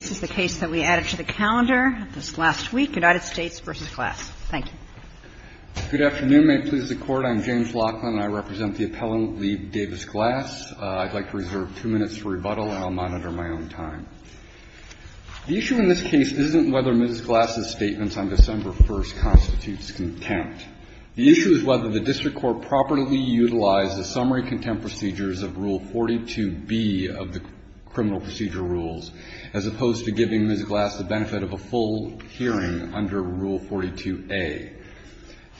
This is the case that we added to the calendar this last week, United States v. GLASS. MR. LOCKLAND, APPELLANT, LEAVE DAVIS-GLASS, U.S. DISTRICT COURT Good afternoon. May it please the Court, I'm James Lockland. I represent the appellant, Leave Davis-Glass. I'd like to reserve two minutes for rebuttal, and I'll monitor my own time. The issue in this case isn't whether Ms. Glass's statements on December 1st constitutes contempt. The issue is whether the District Court properly utilized the summary contempt procedures of Rule 42B of the criminal procedure rules, as opposed to giving Ms. Glass the benefit of a full hearing under Rule 42A.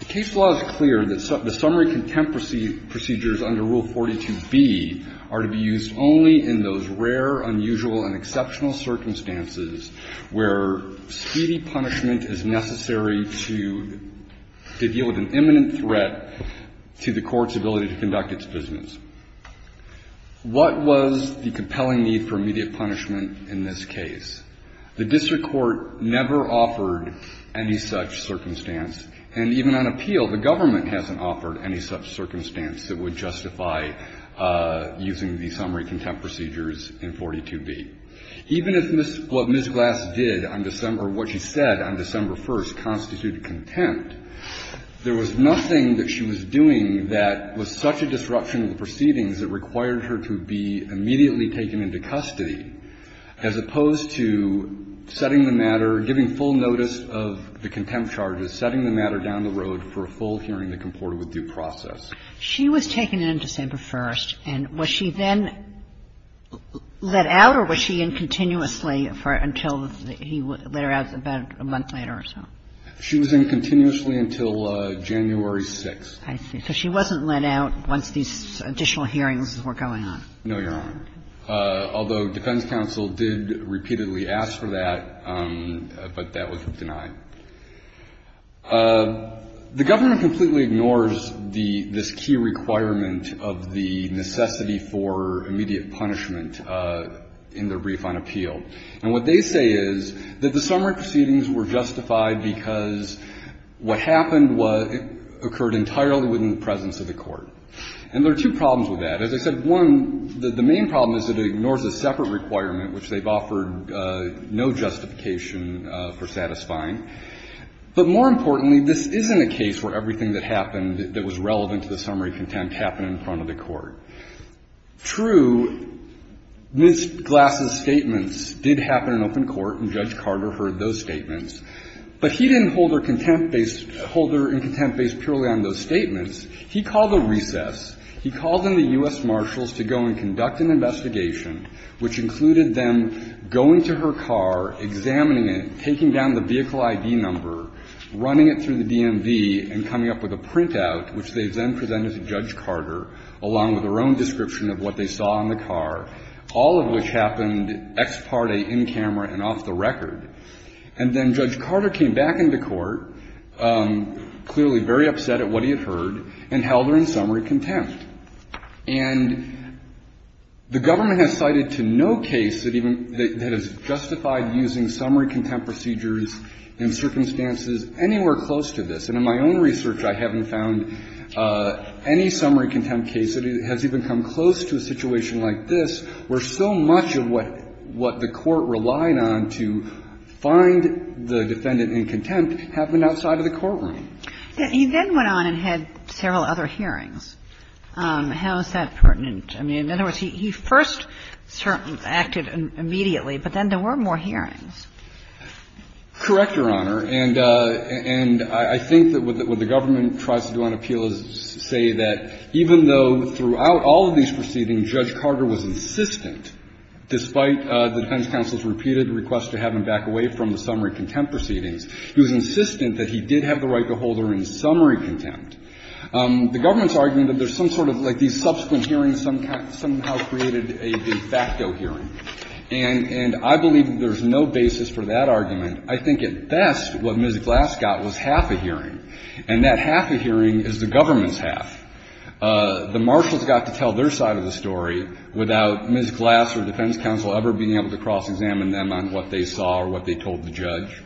The case law is clear that the summary contempt procedures under Rule 42B are to be used only in those rare, unusual, and exceptional circumstances where speedy punishment is necessary to deal with an imminent threat to the Court's ability to conduct its business. What was the compelling need for immediate punishment in this case? The District Court never offered any such circumstance, and even on appeal, the government hasn't offered any such circumstance that would justify using the summary contempt procedures in 42B. Even if Ms. — what Ms. Glass did on December — what she said on December 1st constituted contempt, there was nothing that she was doing that was such a disruption to the proceedings that required her to be immediately taken into custody, as opposed to setting the matter, giving full notice of the contempt charges, setting the matter down the road for a full hearing that comported with due process. She was taken in on December 1st, and was she then let out, or was she in continuously for until he let her out about a month later or so? She was in continuously until January 6th. I see. So she wasn't let out once these additional hearings were going on. No, Your Honor, although defense counsel did repeatedly ask for that, but that was denied. The government completely ignores the — this key requirement of the necessity for immediate punishment in the brief on appeal. And what they say is that the summary proceedings were justified because what happened was it occurred entirely within the presence of the court. And there are two problems with that. As I said, one, the main problem is it ignores a separate requirement, which they've offered no justification for satisfying. But more importantly, this isn't a case where everything that happened that was relevant to the summary contempt happened in front of the court. True, Ms. Glass's statements did happen in open court, and Judge Carter heard those statements. He called a recess. He called on the U.S. Marshals to go and conduct an investigation, which included them going to her car, examining it, taking down the vehicle I.D. number, running it through the DMV, and coming up with a printout, which they then presented to Judge Carter, along with their own description of what they saw in the car, all of which happened ex parte, in camera, and off the record. And then Judge Carter came back into court, clearly very upset at what he had heard, and held her in summary contempt. And the government has cited to no case that even — that has justified using summary contempt procedures in circumstances anywhere close to this, and in my own research I haven't found any summary contempt case that has even come close to a situation like this, where so much of what the court relied on to find the defendant in contempt happened outside of the courtroom. He then went on and had several other hearings. How is that pertinent? I mean, in other words, he first acted immediately, but then there were more hearings. Correct, Your Honor, and I think that what the government tries to do on appeal is say that even though throughout all of these proceedings Judge Carter was insistent, despite the defense counsel's repeated request to have him back away from the summary contempt proceedings, he was insistent that he did have the right to hold her in summary contempt. The government's argument that there's some sort of — like these subsequent hearings somehow created a de facto hearing. And I believe that there's no basis for that argument. I think at best what Ms. Glass got was half a hearing. And that half a hearing is the government's half. The marshals got to tell their side of the story without Ms. Glass or defense counsel ever being able to cross-examine them on what they saw or what they told the judge.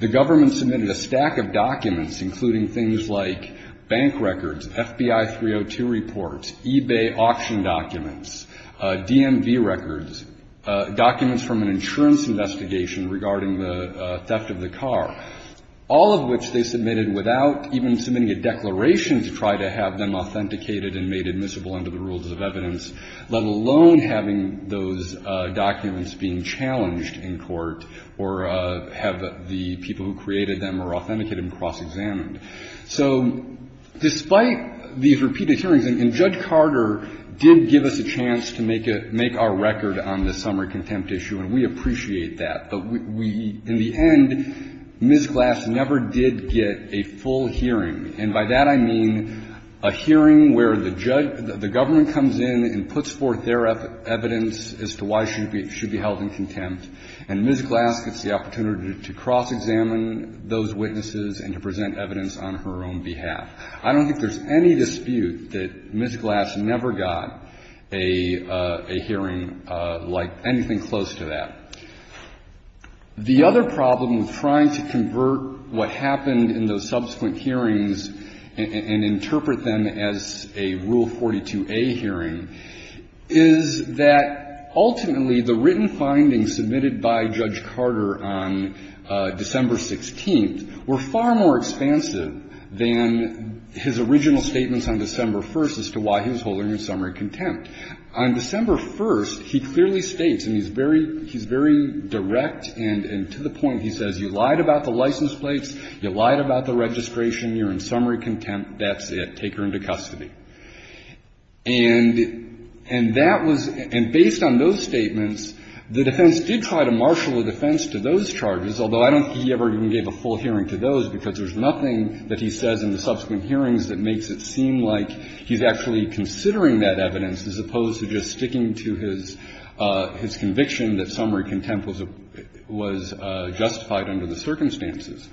The government submitted a stack of documents, including things like bank records, FBI 302 reports, eBay auction documents, DMV records, documents from an insurance investigation regarding the theft of the car, all of which they submitted without even submitting a declaration to try to have them authenticated and made admissible under the rules of evidence, let alone having those documents being challenged in court or have the people who created them or authenticated them cross-examined. So despite these repeated hearings — and Judge Carter did give us a chance to make a — make our record on the summary contempt issue, and we appreciate that. But we — in the end, Ms. Glass never did get a full hearing. And by that I mean a hearing where the judge — the government comes in and puts forth their evidence as to why she should be held in contempt, and Ms. Glass gets the opportunity to cross-examine those witnesses and to present evidence on her own behalf. I don't think there's any dispute that Ms. Glass never got a hearing like anything close to that. The other problem with trying to convert what happened in those subsequent hearings and interpret them as a Rule 42a hearing is that ultimately the written findings submitted by Judge Carter on December 16th were far more expansive than his original statements on December 1st as to why he was holding her in summary contempt. On December 1st, he clearly states, and he's very — he's very direct and to the point, he says, you lied about the license plates, you lied about the registration, you're in summary contempt, that's it, take her into custody. And that was — and based on those statements, the defense did try to marshal the defense to those charges, although I don't think he ever even gave a full hearing to those because there's nothing that he says in the subsequent hearings that makes it seem like he's actually considering that evidence as opposed to just sticking to his conviction that summary contempt was justified under the circumstances.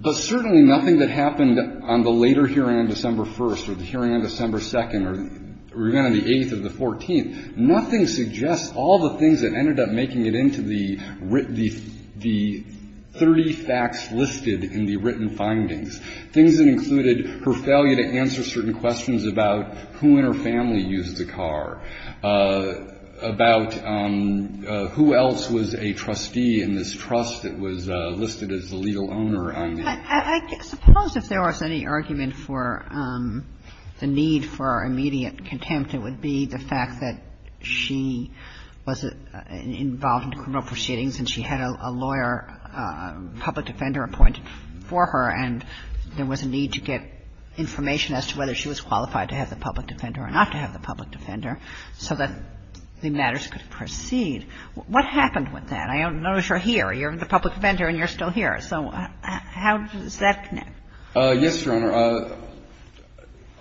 But certainly nothing that happened on the later hearing on December 1st or the hearing on December 2nd or the hearing on the 8th or the 14th, nothing suggests all the things that ended up making it into the 30 facts listed in the written findings, things that included her failure to answer certain questions about who in her family used the car, about who else was a trustee in this trust that was listed as the legal owner on the car. I suppose if there was any argument for the need for immediate contempt, it would be the fact that she was involved in criminal proceedings and she had a lawyer, a public defender appointed for her, and there was a need to get information as to whether she was qualified to have the public defender or not to have the public defender so that the matters could proceed. What happened with that? I don't know if you're here. You're the public defender and you're still here. So how does that connect? Yes, Your Honor.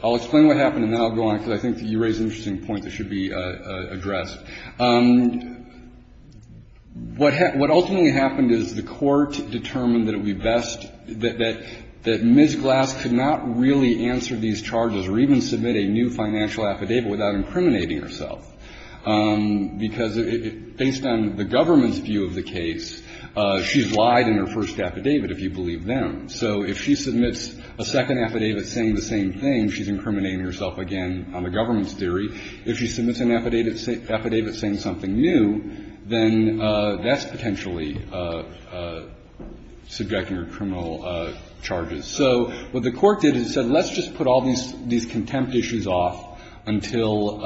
I'll explain what happened and then I'll go on because I think that you raise interesting points that should be addressed. What ultimately happened is the court determined that it would be best that Ms. Glass could not really answer these charges or even submit a new financial affidavit without incriminating herself because based on the government's view of the case, she's lied in her first affidavit, if you believe them. So if she submits a second affidavit saying the same thing, she's incriminating herself again on the government's theory. If she submits an affidavit saying something new, then that's potentially subjecting her to criminal charges. So what the court did is it said, let's just put all these contempt issues off until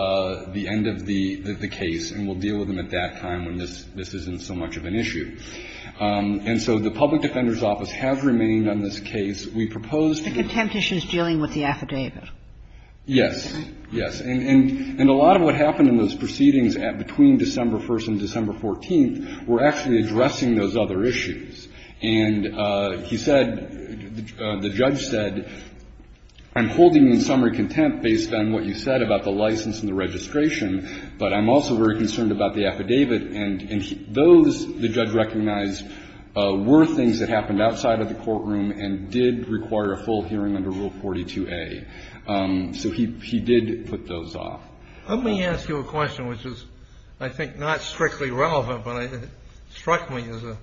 the end of the case and we'll deal with them at that time when this isn't so much of an issue. And so the Public Defender's Office has remained on this case. We proposed to her. The contempt issue is dealing with the affidavit. Yes. And a lot of what happened in those proceedings between December 1st and December 14th were actually addressing those other issues. And he said, the judge said, I'm holding you in summary contempt based on what you said about the license and the registration, but I'm also very concerned about the affidavit, and those, the judge recognized, were things that happened outside of the courtroom and did require a full hearing under Rule 42A. So he did put those off. Let me ask you a question, which is, I think, not strictly relevant, but it struck me as a,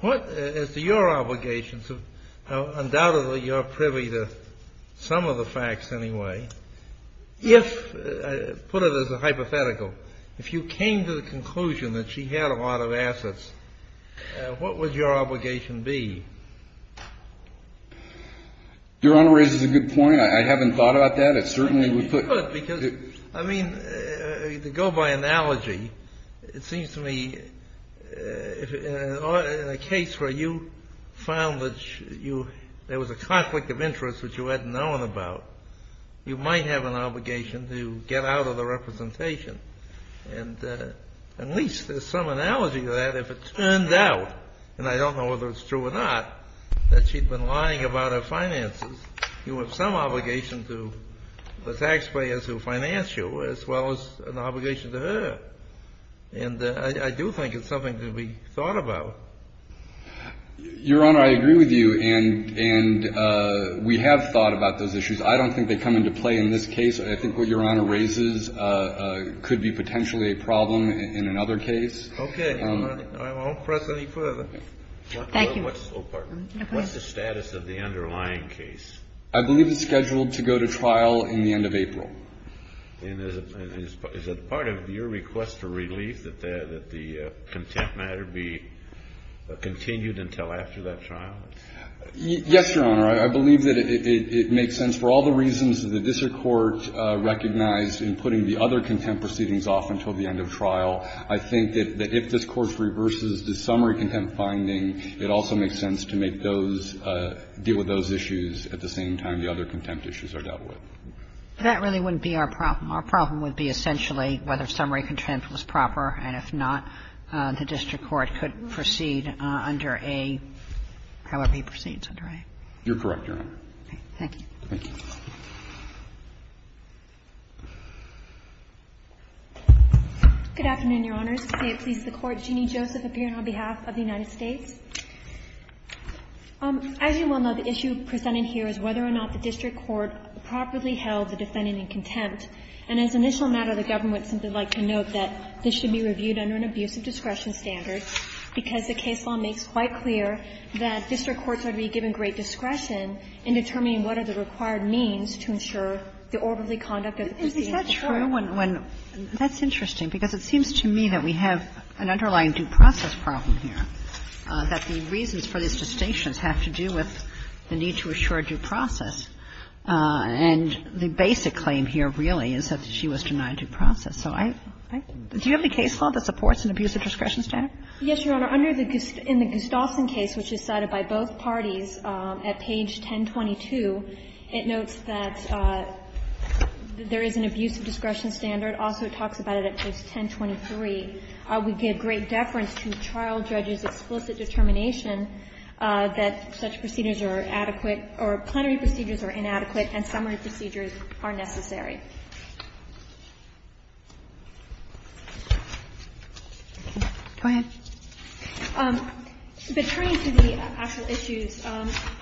what, as to your obligations, undoubtedly, you're privy to some of the facts anyway. If, put it as a hypothetical, if you came to the conclusion that she had a lot of assets, what would your obligation be? Your Honor raises a good point. I haven't thought about that. It certainly would put. You could, because, I mean, to go by analogy, it seems to me, in a case where you found that you, there was a conflict of interest which you hadn't known about, you might have an obligation to get out of the representation. And at least there's some analogy to that. If it turned out, and I don't know whether it's true or not, that she'd been lying about her finances, you have some obligation to the taxpayers who financed you, as well as an obligation to her. And I do think it's something to be thought about. Your Honor, I agree with you, and we have thought about those issues. I don't think they come into play in this case. I think what Your Honor raises could be potentially a problem in another case. Okay. I won't press any further. Thank you. What's the status of the underlying case? I believe it's scheduled to go to trial in the end of April. And is it part of your request for relief that the contempt matter be continued until after that trial? Yes, Your Honor. I believe that it makes sense for all the reasons that the district court recognized in putting the other contempt proceedings off until the end of trial. I think that if this Court reverses the summary contempt finding, it also makes sense to make those, deal with those issues at the same time the other contempt issues are dealt with. That really wouldn't be our problem. Our problem would be essentially whether summary contempt was proper, and if not, the district court could proceed under a, however he proceeds, under a. You're correct, Your Honor. Okay. Thank you. Thank you. Good afternoon, Your Honors. It pleases the Court. Jeanne Joseph appearing on behalf of the United States. As you well know, the issue presented here is whether or not the district court properly held the defendant in contempt. And as an initial matter, the government would simply like to note that this should be reviewed under an abuse of discretion standard because the case law makes quite clear that district courts ought to be given great discretion in determining what are the required means to ensure the orderly conduct of the proceeding of the court. Is that true? That's interesting, because it seems to me that we have an underlying due process problem here, that the reasons for these distinctions have to do with the need to assure due process. And the basic claim here, really, is that she was denied due process. So I do you have any case law that supports an abuse of discretion standard? Yes, Your Honor. Your Honor, in the Gustafson case, which is cited by both parties at page 1022, it notes that there is an abuse of discretion standard. Also, it talks about it at page 1023. We give great deference to trial judges' explicit determination that such procedures are adequate or plenary procedures are inadequate and summary procedures are necessary. Go ahead. Returning to the actual issues,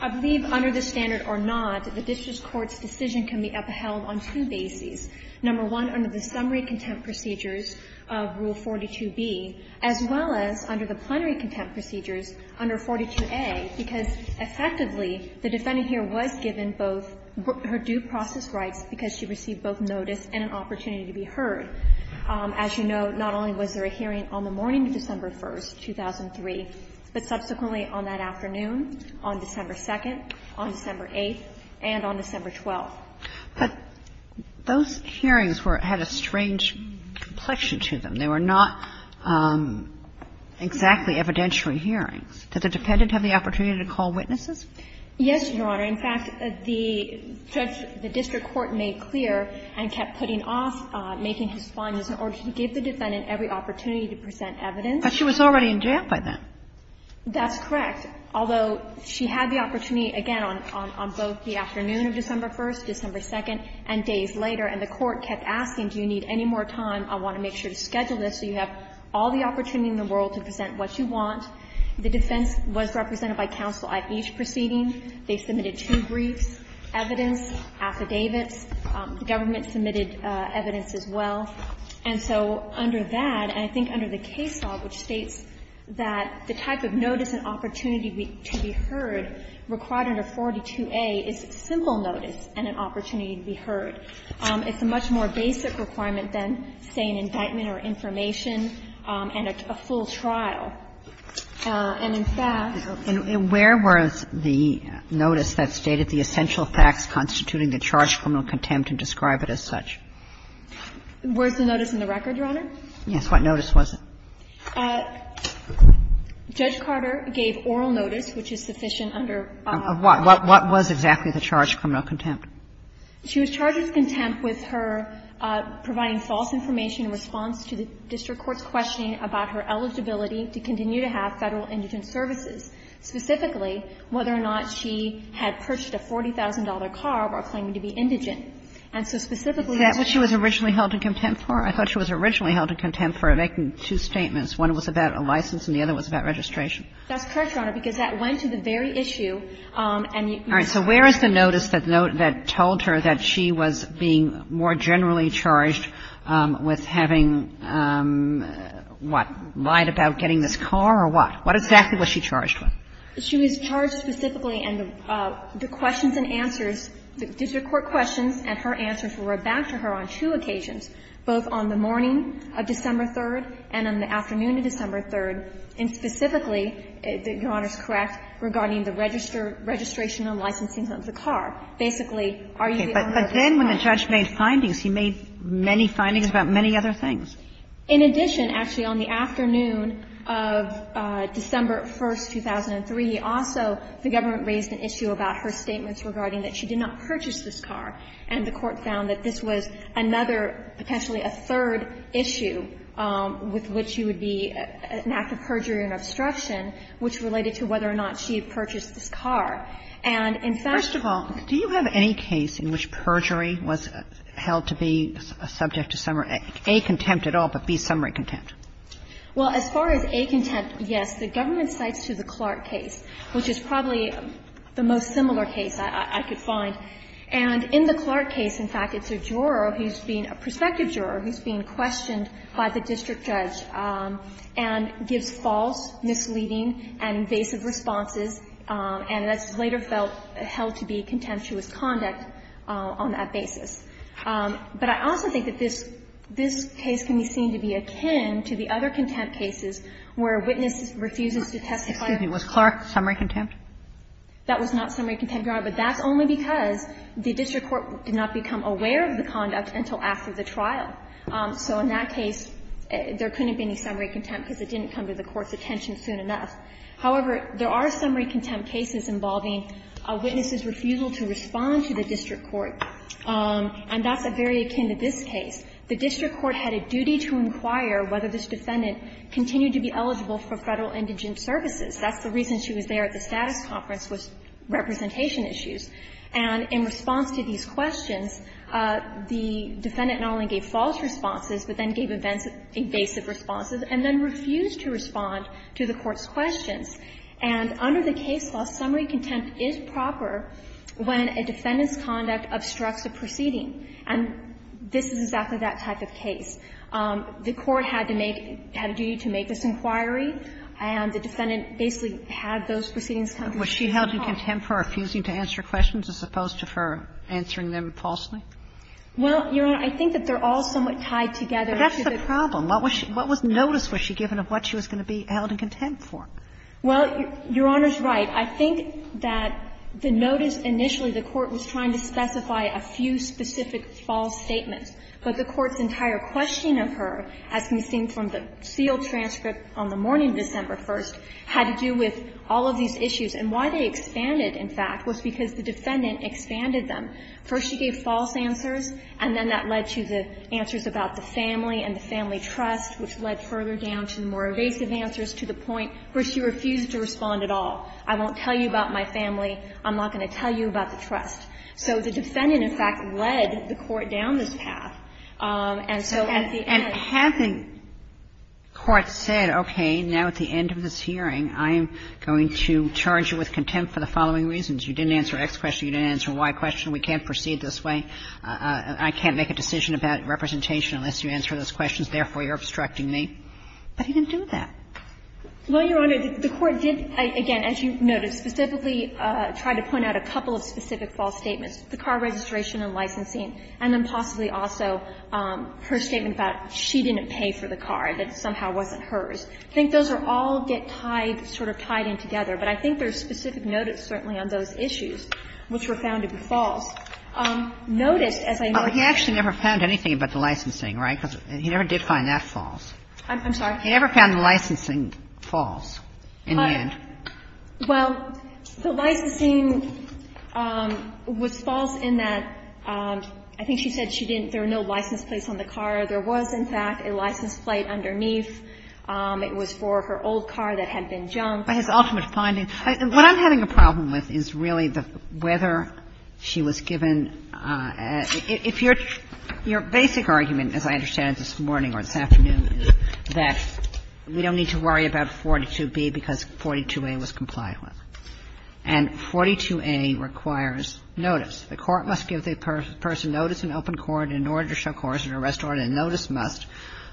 I believe under this standard or not, the district court's decision can be upheld on two bases. Number one, under the summary contempt procedures of Rule 42B, as well as under the plenary contempt procedures under 42A, because effectively, the defendant here was given both her due process rights because she received both notice and an opportunity to be heard, as you note, not only was there a hearing on the morning of December 1st, 2003, but subsequently on that afternoon on December 2nd, on December 8th, and on December 12th. But those hearings were at a strange complexion to them. They were not exactly evidentiary hearings. Did the defendant have the opportunity to call witnesses? Yes, Your Honor. In fact, the judge, the district court made clear and kept putting off making his findings in order to give the defendant every opportunity to present evidence. But she was already in jail by then. That's correct. Although, she had the opportunity, again, on both the afternoon of December 1st, December 2nd, and days later. And the court kept asking, do you need any more time? I want to make sure to schedule this so you have all the opportunity in the world to present what you want. The defense was represented by counsel at each proceeding. They submitted two briefs, evidence, affidavits. The government submitted evidence as well. And so under that, and I think under the case law, which states that the type of notice and opportunity to be heard required under 42A is simple notice and an opportunity to be heard. It's a much more basic requirement than, say, an indictment or information and a full trial. And, in fact — And where was the notice that stated the essential facts constituting the charge of criminal contempt and describe it as such? Where's the notice in the record, Your Honor? Yes. What notice was it? Judge Carter gave oral notice, which is sufficient under — Of what? What was exactly the charge of criminal contempt? She was charged with contempt with her providing false information in response to the district court's questioning about her eligibility to continue to have Federal indigent services, specifically whether or not she had purchased a $40,000 car while claiming to be indigent. And so specifically — Is that what she was originally held in contempt for? I thought she was originally held in contempt for making two statements. One was about a license and the other was about registration. That's correct, Your Honor, because that went to the very issue and the — All right. So where is the notice that told her that she was being more generally charged with having, what, lied about getting this car or what? What exactly was she charged with? She was charged specifically and the questions and answers, the district court questions and her answers were back to her on two occasions, both on the morning of December 3rd and on the afternoon of December 3rd, and specifically, Your Honor's correct, regarding the registration and licensing of the car. Basically, are you the owner of this car? But then when the judge made findings, he made many findings about many other things. In addition, actually, on the afternoon of December 1st, 2003, also the government raised an issue about her statements regarding that she did not purchase this car. And the Court found that this was another, potentially a third issue with which you would be — an act of perjury and obstruction, which related to whether or not she purchased this car. And in fact — First of all, do you have any case in which perjury was held to be a subject to summary — A, contempt at all, but B, summary contempt? Well, as far as A, contempt, yes. The government cites the Clark case, which is probably the most similar case I could find. And in the Clark case, in fact, it's a juror who's being — a prospective juror who's being questioned by the district judge and gives false, misleading and invasive responses, and that's later felt held to be contemptuous conduct on that basis. But I also think that this — this case can be seen to be akin to the other contempt cases where a witness refuses to testify. Excuse me. Was Clark summary contempt? That was not summary contempt, Your Honor. But that's only because the district court did not become aware of the conduct until after the trial. So in that case, there couldn't have been any summary contempt because it didn't come to the court's attention soon enough. However, there are summary contempt cases involving a witness's refusal to respond to the district court, and that's very akin to this case. The district court had a duty to inquire whether this defendant continued to be eligible for Federal indigent services. That's the reason she was there at the status conference was representation issues. And in response to these questions, the defendant not only gave false responses but then gave invasive responses and then refused to respond to the court's questions. And under the case law, summary contempt is proper when a defendant's conduct obstructs a proceeding, and this is exactly that type of case. The court had to make — had a duty to make this inquiry, and the defendant basically had those proceedings come to the court. Was she held in contempt for refusing to answer questions as opposed to for answering them falsely? Well, Your Honor, I think that they're all somewhat tied together. But that's the problem. What was she — what notice was she given of what she was going to be held in contempt for? Well, Your Honor's right. I think that the notice initially, the court was trying to specify a few specific false statements. But the court's entire questioning of her, as we've seen from the sealed transcript on the morning of December 1st, had to do with all of these issues. And why they expanded, in fact, was because the defendant expanded them. First, she gave false answers, and then that led to the answers about the family and the family trust, which led further down to the more evasive answers to the point where she refused to respond at all. I won't tell you about my family. I'm not going to tell you about the trust. So the defendant, in fact, led the court down this path. And so at the end of the day the court said, okay, now at the end of this hearing, I am going to charge you with contempt for the following reasons. You didn't answer X question. You didn't answer Y question. We can't proceed this way. I can't make a decision about representation unless you answer those questions. Therefore, you're obstructing me. But he didn't do that. Well, Your Honor, the court did, again, as you noted, specifically try to point out a couple of specific false statements, the car registration and licensing, and then possibly also her statement about she didn't pay for the car, that it somehow wasn't hers. I think those are all get tied, sort of tied in together. to be false. He actually never found anything about the licensing, right? Because he never did find that false. I'm sorry? He never found the licensing false in the end. Well, the licensing was false in that I think she said she didn't – there were no license plates on the car. There was, in fact, a license plate underneath. It was for her old car that had been junked. She was given – if your basic argument, as I understand it this morning or this afternoon, is that we don't need to worry about 42B because 42A was complied with. And 42A requires notice. The court must give the person notice in open court in order to show coercion or arrest order, and notice must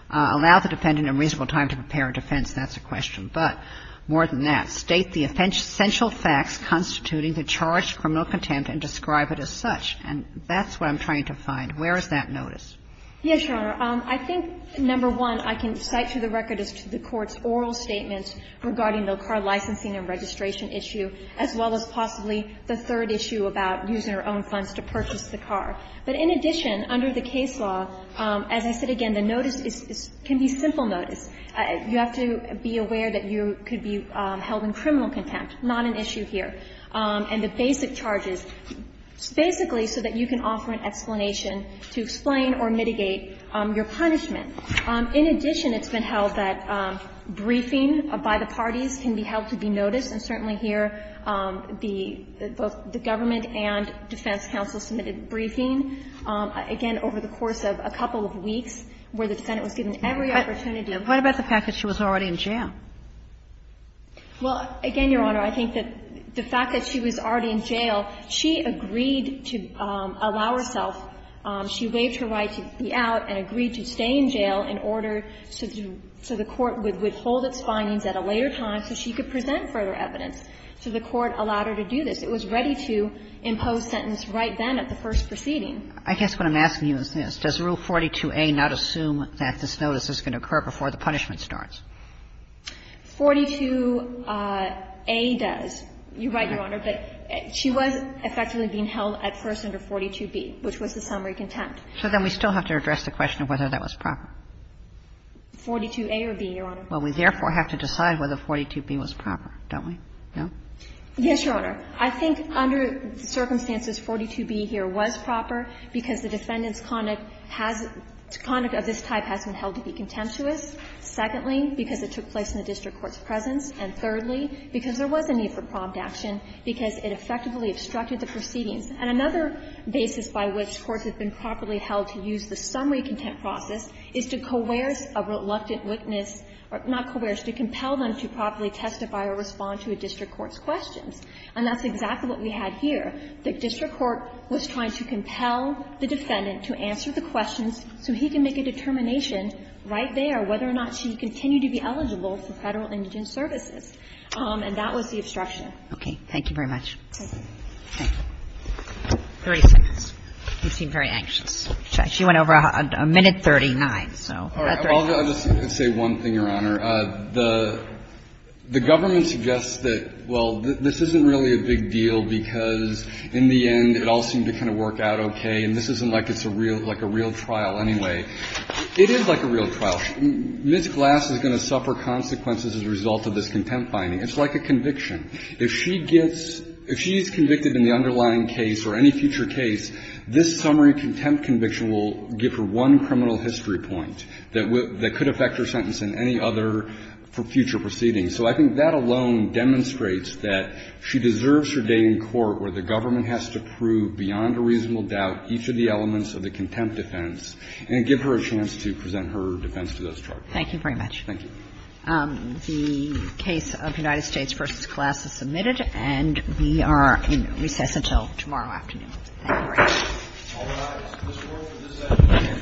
allow the defendant a reasonable time to prepare a defense. That's a question. But more than that, state the essential facts constituting the charge of criminal contempt and describe it as such. And that's what I'm trying to find. Where is that notice? Yes, Your Honor. I think, number one, I can cite to the record as to the Court's oral statement regarding the car licensing and registration issue, as well as possibly the third issue about using her own funds to purchase the car. But in addition, under the case law, as I said again, the notice is – can be simple notice. You have to be aware that you could be held in criminal contempt, not an issue here. And the basic charges, it's basically so that you can offer an explanation to explain or mitigate your punishment. In addition, it's been held that briefing by the parties can be held to be noticed. And certainly here, the – both the government and defense counsel submitted briefing, again, over the course of a couple of weeks, where the Senate was given every opportunity. But what about the fact that she was already in jail? Well, again, Your Honor, I think that the fact that she was already in jail, she agreed to allow herself – she waived her right to be out and agreed to stay in jail in order to do – so the Court would withhold its findings at a later time so she could present further evidence. So the Court allowed her to do this. It was ready to impose sentence right then at the first proceeding. I guess what I'm asking you is this. Does Rule 42a not assume that this notice is going to occur before the punishment starts? 42a does. You're right, Your Honor, but she was effectively being held at first under 42b, which was the summary contempt. So then we still have to address the question of whether that was proper. 42a or b, Your Honor. Well, we therefore have to decide whether 42b was proper, don't we? No? Yes, Your Honor. I think under the circumstances, 42b here was proper because the defendant's conduct has – conduct of this type has been held to be contemptuous. Secondly, because it took place in the district court's presence. And thirdly, because there was a need for prompt action, because it effectively obstructed the proceedings. And another basis by which courts have been properly held to use the summary contempt process is to coerce a reluctant witness – not coerce, to compel them to properly testify or respond to a district court's questions. And that's exactly what we had here. The district court was trying to compel the defendant to answer the questions so he can make a determination right there whether or not she continued to be eligible for Federal indigent services. And that was the obstruction. Okay. Thank you very much. Thank you. Thank you. 30 seconds. You seem very anxious. She went over a minute 39. All right. I'll just say one thing, Your Honor. The government suggests that, well, this isn't really a big deal because in the end, it all seemed to kind of work out okay. And this isn't like it's a real – like a real trial anyway. It is like a real trial. Ms. Glass is going to suffer consequences as a result of this contempt finding. It's like a conviction. If she gets – if she is convicted in the underlying case or any future case, this summary contempt conviction will give her one criminal history point that could affect her sentence in any other future proceedings. So I think that alone demonstrates that she deserves her day in court where the government has to prove beyond a reasonable doubt each of the elements of the contempt defense and give her a chance to present her defense to those charges. Thank you very much. Thank you. The case of United States v. Glass is submitted, and we are in recess until tomorrow afternoon. Thank you very much. All rise. This court is adjourned. Thank you.